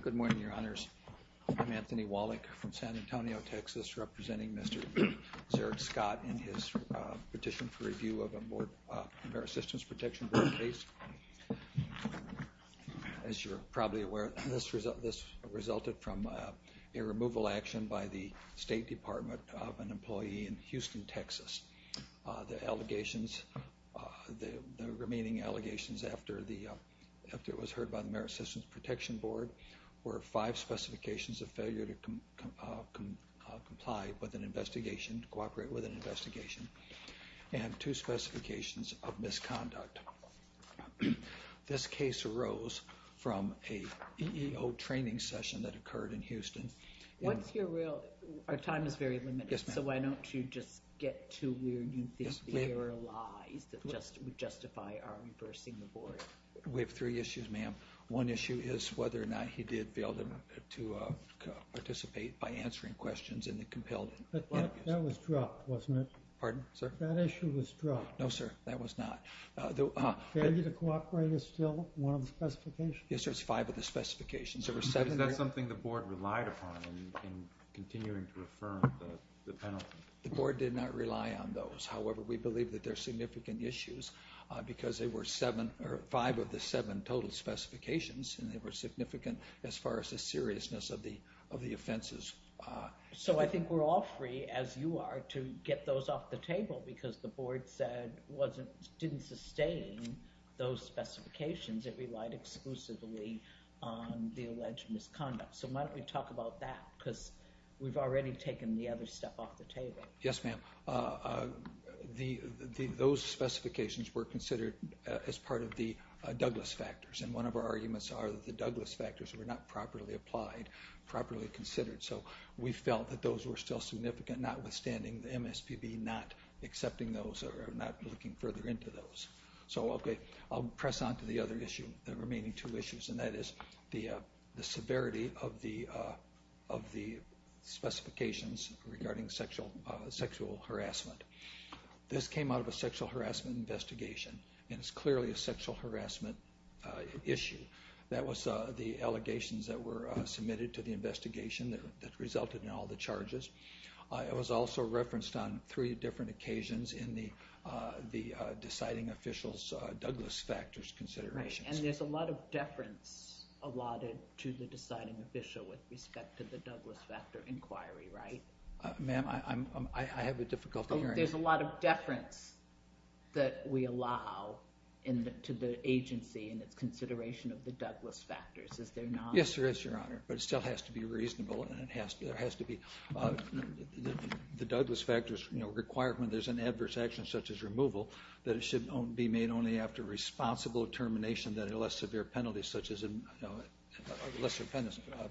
Good morning, Your Honors. I'm Anthony Wallach from San Antonio, Texas, representing Mr. Zarek Scott in his petition for review of a Board of Compare Assistance Protection Board case. As you're probably aware, this resulted from a removal action by the State Department of an employee in Houston, Texas. The allegations, the remaining allegations after it was heard by the Merit Assistance Protection Board were five specifications of failure to comply with an investigation, cooperate with an investigation, and two specifications of misconduct. This case arose from an EEO training session that occurred in Houston. Our time is very limited, so why don't you just get to where you think the error lies that would justify our reversing the Board? We have three issues, ma'am. One issue is whether or not he did fail to participate by answering questions in the compelled... But that was dropped, wasn't it? Pardon, sir? That issue was dropped. No, sir, that was not. Failure to cooperate is still one of the specifications? Yes, sir, it's five of the specifications. Is that something the Board relied upon in continuing to affirm the penalty? The Board did not rely on those. However, we believe that they're significant issues because they were five of the seven total specifications, and they were significant as far as the seriousness of the offenses. So I think we're offering, as you are, to get those off the table because the Board said it didn't sustain those specifications. It relied exclusively on the alleged misconduct. So why don't we talk about that? Because we've already taken the other stuff off the table. Yes, ma'am. Those specifications were considered as part of the Douglas factors, and one of our arguments are that the Douglas factors were not properly applied, properly considered. So we felt that those were still significant, notwithstanding the MSPB not accepting those or not looking further into those. So okay, I'll press on to the other issue, the remaining two issues, and that is the severity of the specifications regarding sexual harassment. This came out of a sexual harassment investigation, and it's clearly a sexual harassment issue. That was the allegations that were submitted to the investigation that resulted in all the charges. It was also referenced on three different occasions in the deciding official's Douglas factors considerations. Right, and there's a lot of deference allotted to the deciding official with respect to the Douglas factor inquiry, right? Ma'am, I have a difficult hearing. There's a lot of deference that we allow to the agency in its consideration of the Douglas factors, is there not? Yes, there is, Your Honor, but it still has to be reasonable. The Douglas factors require when there's an adverse action, such as removal, that it should be made only after responsible termination unless severe penalties, such as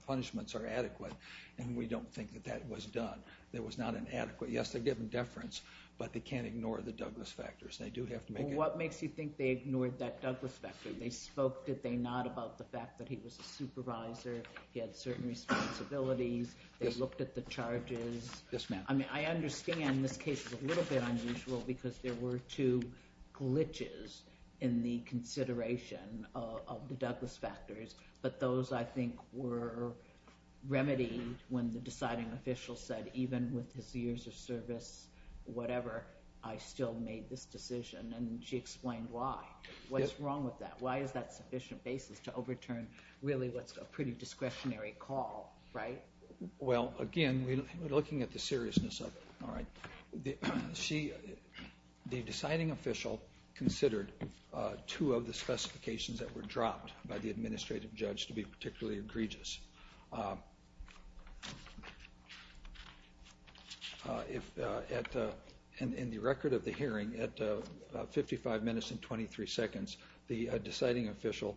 punishments, are adequate, and we don't think that that was done. It was not inadequate. Yes, they give them deference, but they can't ignore the Douglas factors. They do have to make it... Well, what makes you think they ignored that Douglas factor? They spoke, did they not, about the fact that he was a supervisor, he had certain responsibilities, they looked at the charges. Yes, ma'am. I mean, I understand this case is a little bit unusual because there were two glitches in the consideration of the Douglas factors, but those, I think, were remedied when the deciding official said, even with his years of service, whatever, I still made this decision, and she explained why. What's wrong with that? Why is that a sufficient basis to overturn, really, what's a pretty discretionary call, right? Well, again, looking at the seriousness of it, the deciding official considered two of the specifications that were dropped by the administrative judge to be particularly egregious. In the record of the hearing, at 55 minutes and 23 seconds, the deciding official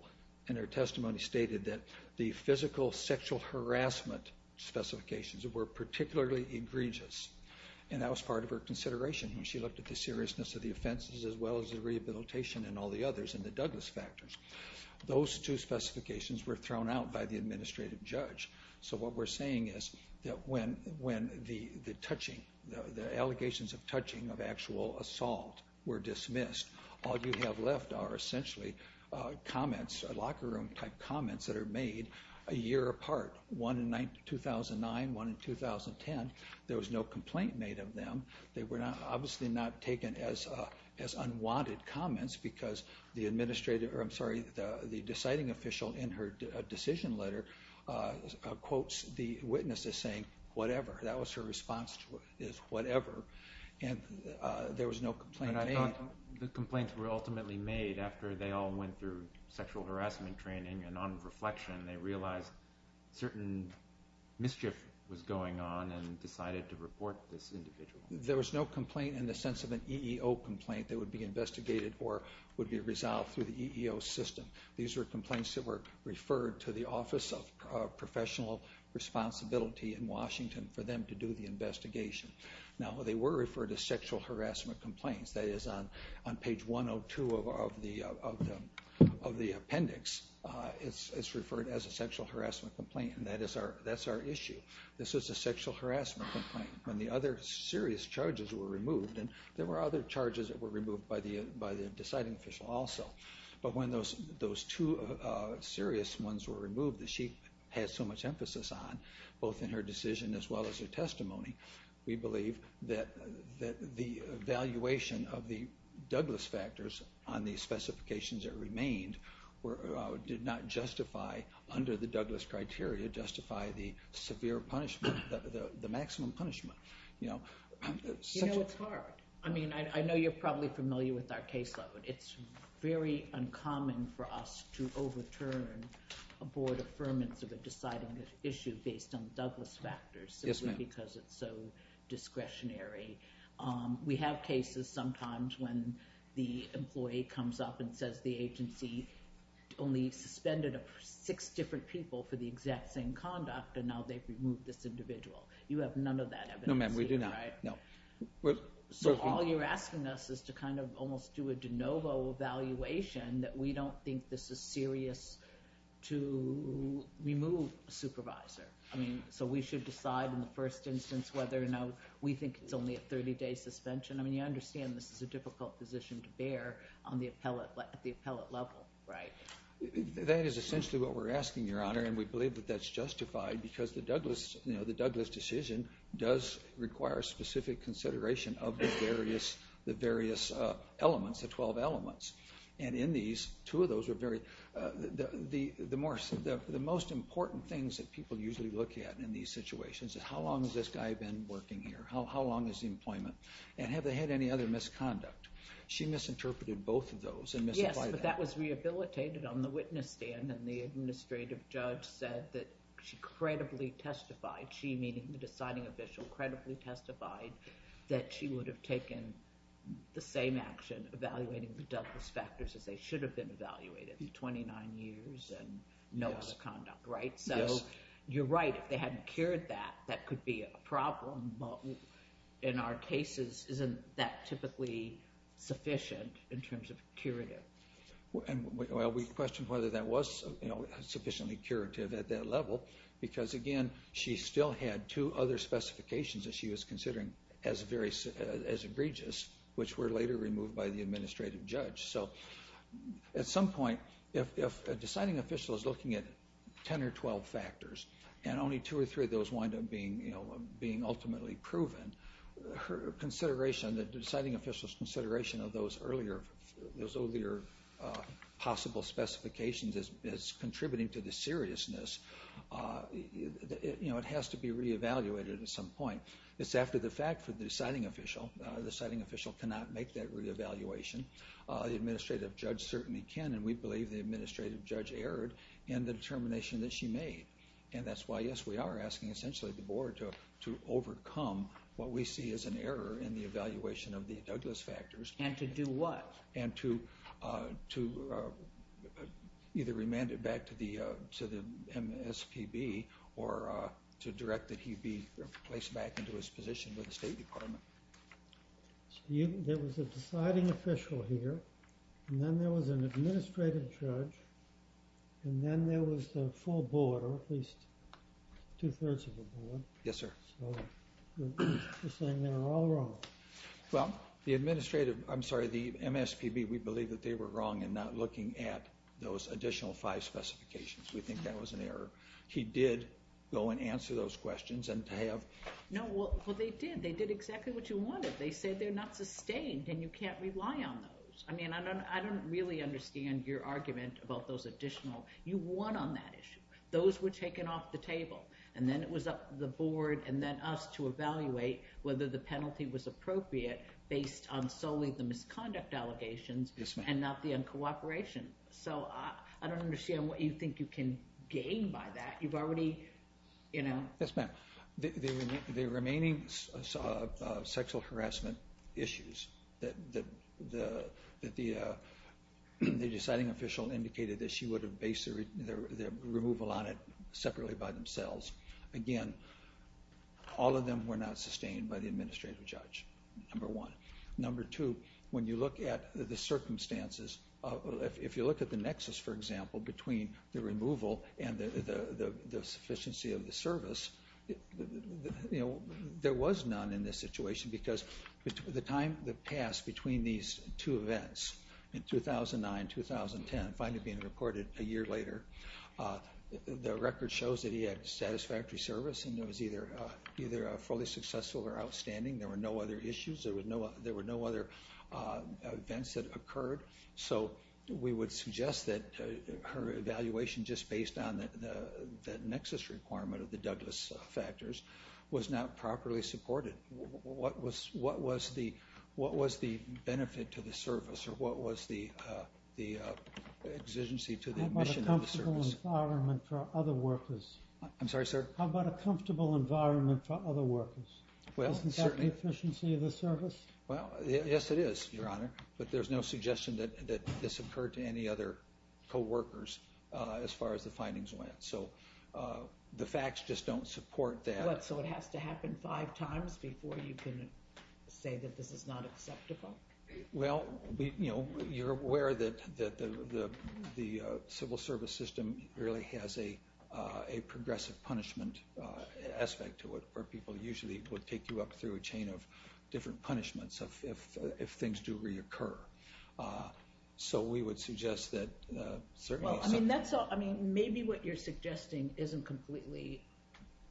in her testimony stated that the physical sexual harassment specifications were particularly egregious, and that was part of her consideration. She looked at the seriousness of the offenses as well as the rehabilitation and all the others in the Douglas factors. Those two specifications were thrown out by the administrative judge. So what we're saying is that when the allegations of touching, of actual assault, were dismissed, all you have left are essentially comments, locker room-type comments, that are made a year apart, one in 2009, one in 2010. There was no complaint made of them. They were obviously not taken as unwanted comments because the deciding official in her decision letter quotes the witness as saying, whatever. That was her response to it, is whatever. And there was no complaint made. But I thought the complaints were ultimately made after they all went through sexual harassment training and on reflection, they realized certain mischief was going on and decided to report this individual. There was no complaint in the sense of an EEO complaint that would be investigated or would be resolved through the EEO system. These were complaints that were referred to the Office of Professional Responsibility in Washington for them to do the investigation. Now, they were referred to sexual harassment complaints. That is, on page 102 of the appendix, it's referred as a sexual harassment complaint, and that's our issue. This is a sexual harassment complaint. When the other serious charges were removed, and there were other charges that were removed by the deciding official also, but when those two serious ones were removed that she had so much emphasis on, both in her decision as well as her testimony, we believe that the evaluation of the Douglas factors on the specifications that remained did not justify, under the Douglas criteria, justify the severe punishment, the maximum punishment. You know, it's hard. I mean, I know you're probably familiar with our caseload. It's very uncommon for us to overturn a board affirmance of a deciding issue based on the Douglas factors simply because it's so discretionary. We have cases sometimes when the employee comes up and says the agency only suspended six different people for the exact same conduct, and now they've removed this individual. You have none of that evidence here, right? No, ma'am, we do not. No. So all you're asking us is to kind of almost do a de novo evaluation that we don't think this is serious to remove a supervisor. I mean, so we should decide in the first instance whether or not we think it's only a 30-day suspension. I mean, you understand this is a difficult position to bear at the appellate level, right? That is essentially what we're asking, Your Honor, and we believe that that's justified because the Douglas decision does require specific consideration of the various elements, the 12 elements. And in these, two of those are very—the most important things that people usually look at in these situations is how long has this guy been working here? How long is the employment? And have they had any other misconduct? She misinterpreted both of those and misapplied that. That was rehabilitated on the witness stand, and the administrative judge said that she credibly testified, she meaning the deciding official, credibly testified that she would have taken the same action evaluating the Douglas factors as they should have been evaluated, 29 years and no other conduct, right? So you're right, if they hadn't cured that, that could be a problem. But in our cases, isn't that typically sufficient in terms of curative? Well, we questioned whether that was sufficiently curative at that level, because again, she still had two other specifications that she was considering as egregious, which were later removed by the administrative judge. So at some point, if a deciding official is looking at 10 or 12 factors, and only two or three of those wind up being ultimately proven, the deciding official's consideration of those earlier possible specifications is contributing to the seriousness. It has to be re-evaluated at some point. It's after the fact for the deciding official. The deciding official cannot make that re-evaluation. The administrative judge certainly can, and we believe the administrative judge erred in the determination that she made. And that's why, yes, we are asking essentially the board to overcome what we see as an error in the evaluation of the Douglas factors. And to do what? And to either remand it back to the MSPB, or to direct that he be placed back into his position with the State Department. There was a deciding official here, and then there was an administrative judge, and then there was the full board, or at least two-thirds of the board. Yes, sir. So you're saying they were all wrong. Well, the administrative, I'm sorry, the MSPB, we believe that they were wrong in not looking at those additional five specifications. We think that was an error. He did go and answer those questions, and to have... No, well, they did. They did exactly what you wanted. They said they're not sustained, and you can't rely on those. I mean, I don't really understand your argument about those additional. You won on that issue. Those were taken off the table, and then it was up to the board, and then us to evaluate whether the penalty was appropriate based on solely the misconduct allegations and not the uncooperation. So I don't understand what you think you can gain by that. You've already, you know... Yes, ma'am. The remaining sexual harassment issues that the deciding official indicated that she would have based the removal on it separately by themselves, again, all of them were not sustained by the administrative judge, number one. Number two, when you look at the circumstances, if you look at the nexus, for example, between the removal and the sufficiency of the service, you know, there was none in this situation because the time that passed between these two events, in 2009, 2010, finally being recorded a year later, the record shows that he had satisfactory service and it was either fully successful or outstanding. There were no other issues. There were no other events that occurred. So we would suggest that her evaluation just based on the nexus requirement of the Douglas factors was not properly supported. What was the benefit to the service or what was the exigency to the admission of the service? How about a comfortable environment for other workers? I'm sorry, sir? How about a comfortable environment for other workers? Well, certainly. Isn't that the efficiency of the service? Well, yes, it is, Your Honor, but there's no suggestion that this occurred to any other coworkers as far as the findings went. So the facts just don't support that. What, so it has to happen five times before you can say that this is not acceptable? Well, you know, you're aware that the civil service system really has a progressive punishment aspect to it where people usually would take you up through a chain of different punishments if things do reoccur. So we would suggest that certainly... Well, I mean, maybe what you're suggesting isn't completely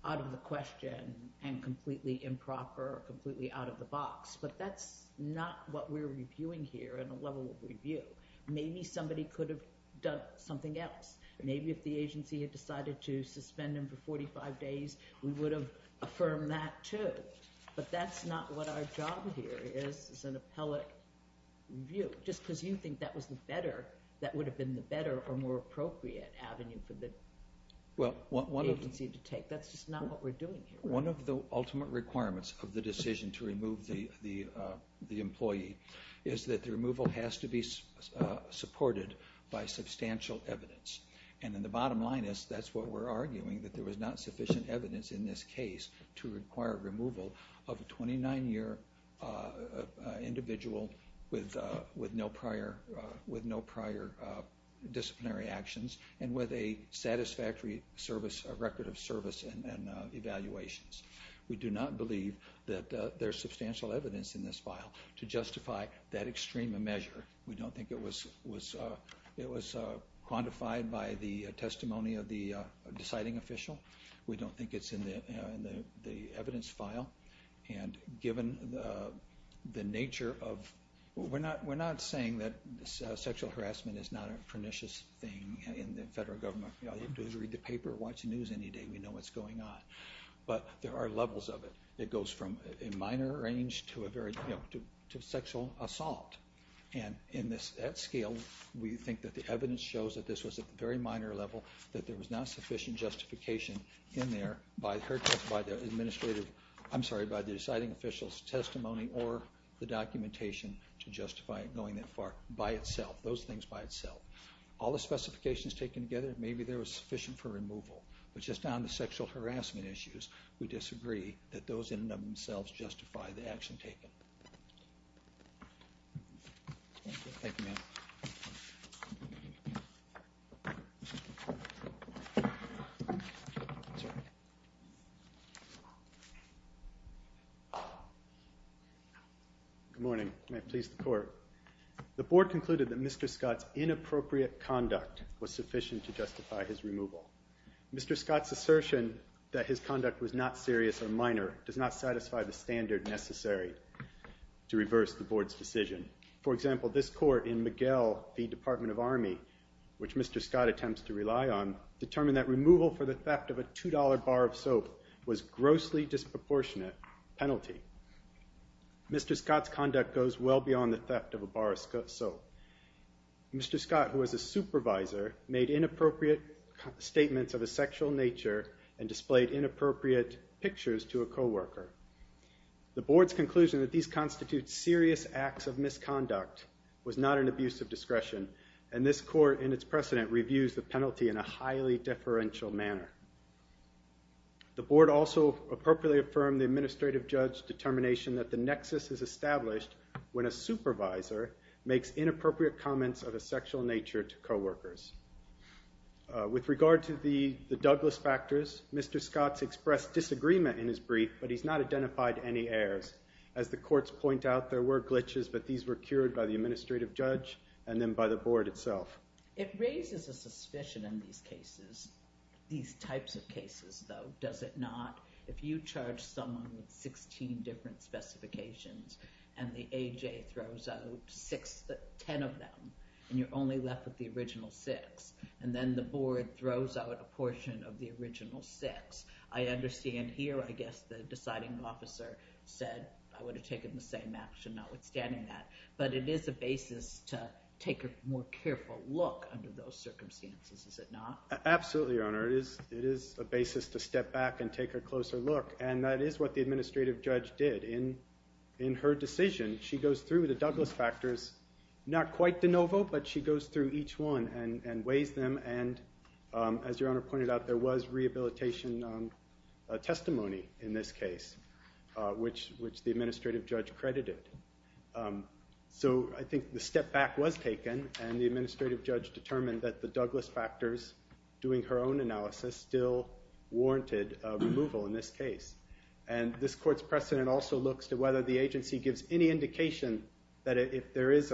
out of the question and completely improper or completely out of the box, but that's not what we're reviewing here in a level of review. Maybe somebody could have done something else. Maybe if the agency had decided to suspend him for 45 days, we would have affirmed that, too. But that's not what our job here is, is an appellate review, just because you think that would have been the better or more appropriate avenue for the agency to take. That's just not what we're doing here. One of the ultimate requirements of the decision to remove the employee is that the removal has to be supported by substantial evidence. And then the bottom line is that's what we're arguing, that there was not sufficient evidence in this case to require removal of a 29-year individual with no prior disciplinary actions and with a satisfactory record of service and evaluations. We do not believe that there's substantial evidence in this file to justify that extreme measure. We don't think it was quantified by the testimony of the deciding official. We don't think it's in the evidence file. We're not saying that sexual harassment is not a pernicious thing in the federal government. You have to read the paper or watch the news any day. We know what's going on. But there are levels of it. It goes from a minor range to sexual assault. And at scale, we think that the evidence shows that this was at the very minor level, that there was not sufficient justification in there by the deciding official's testimony or the documentation to justify it going that far by itself, those things by itself. All the specifications taken together, maybe there was sufficient for removal. But just on the sexual harassment issues, we disagree that those in and of themselves justify the action taken. Thank you, ma'am. Good morning. May it please the Court. The Board concluded that Mr. Scott's inappropriate conduct was sufficient to justify his removal. Mr. Scott's assertion that his conduct was not serious or minor does not satisfy the standard necessary to reverse the Board's decision. For example, this Court in Miguel v. Department of Army, which Mr. Scott attempts to rely on, determined that removal for the theft of a $2 bar of soap was a grossly disproportionate penalty. Mr. Scott's conduct goes well beyond the theft of a bar of soap. Mr. Scott, who was a supervisor, made inappropriate statements of a sexual nature and displayed inappropriate pictures to a coworker. The Board's conclusion that these constitute serious acts of misconduct was not an abuse of discretion, and this Court in its precedent reviews the penalty in a highly deferential manner. The Board also appropriately affirmed the administrative judge's determination that the nexus is established when a supervisor makes inappropriate comments of a sexual nature to coworkers. With regard to the Douglas factors, Mr. Scott's expressed disagreement in his brief, but he's not identified any errors. As the courts point out, there were glitches, but these were cured by the administrative judge and then by the Board itself. It raises a suspicion in these cases, these types of cases, though, does it not? If you charge someone with 16 different specifications and the AJ throws out six, ten of them, and you're only left with the original six, and then the Board throws out a portion of the original six, I understand here I guess the deciding officer said I would have taken the same action notwithstanding that, but it is a basis to take a more careful look under those circumstances, is it not? Absolutely, Your Honor. It is a basis to step back and take a closer look, and that is what the administrative judge did. In her decision, she goes through the Douglas factors, not quite de novo, but she goes through each one and weighs them, and as Your Honor pointed out, there was rehabilitation testimony in this case, which the administrative judge credited. So I think the step back was taken, and the administrative judge determined that the Douglas factors, doing her own analysis, still warranted removal in this case, and this court's precedent also looks to whether the agency gives any indication that if there is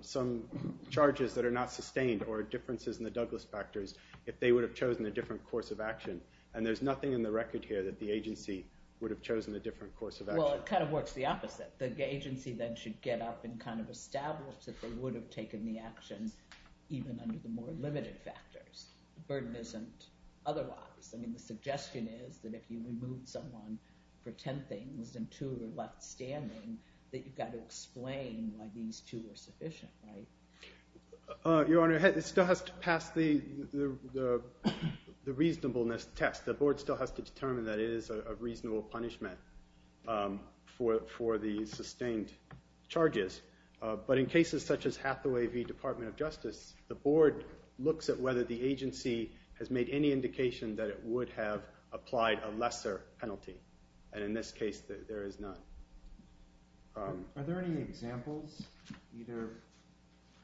some charges that are not sustained or differences in the Douglas factors, if they would have chosen a different course of action, and there's nothing in the record here that the agency would have chosen a different course of action. Well, it kind of works the opposite. The agency then should get up and kind of establish that they would have taken the action even under the more limited factors. The burden isn't otherwise. I mean the suggestion is that if you remove someone for ten things and two are left standing, that you've got to explain why these two are sufficient, right? Your Honor, it still has to pass the reasonableness test. The board still has to determine that it is a reasonable punishment for the sustained charges, but in cases such as Hathaway v. Department of Justice, the board looks at whether the agency has made any indication that it would have applied a lesser penalty, and in this case, there is none. Are there any examples either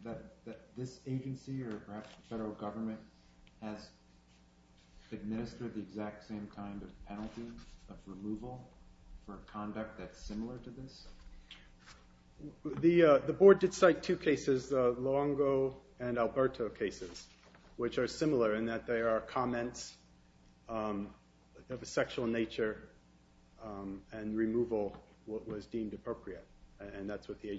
that this agency or perhaps the federal government has administered the exact same kind of penalty of removal for conduct that's similar to this? The board did cite two cases, Luongo and Alberto cases, which are similar in that they are comments of a sexual nature and removal what was deemed appropriate, and that's what the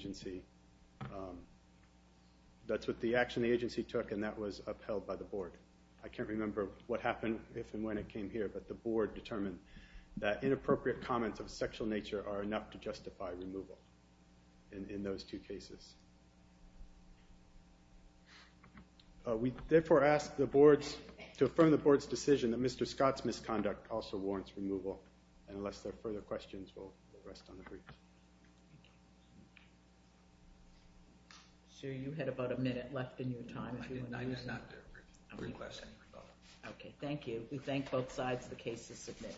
action the agency took and that was upheld by the board. I can't remember what happened, if and when it came here, but the board determined that inappropriate comments of a sexual nature are enough to justify removal in those two cases. We therefore ask the boards to affirm the board's decision that Mr. Scott's misconduct also warrants removal, and unless there are further questions, we'll rest on the briefs. Thank you. Sir, you had about a minute left in your time. I did not. I did not request any rebuttal. Okay, thank you. We thank both sides. The case is submitted.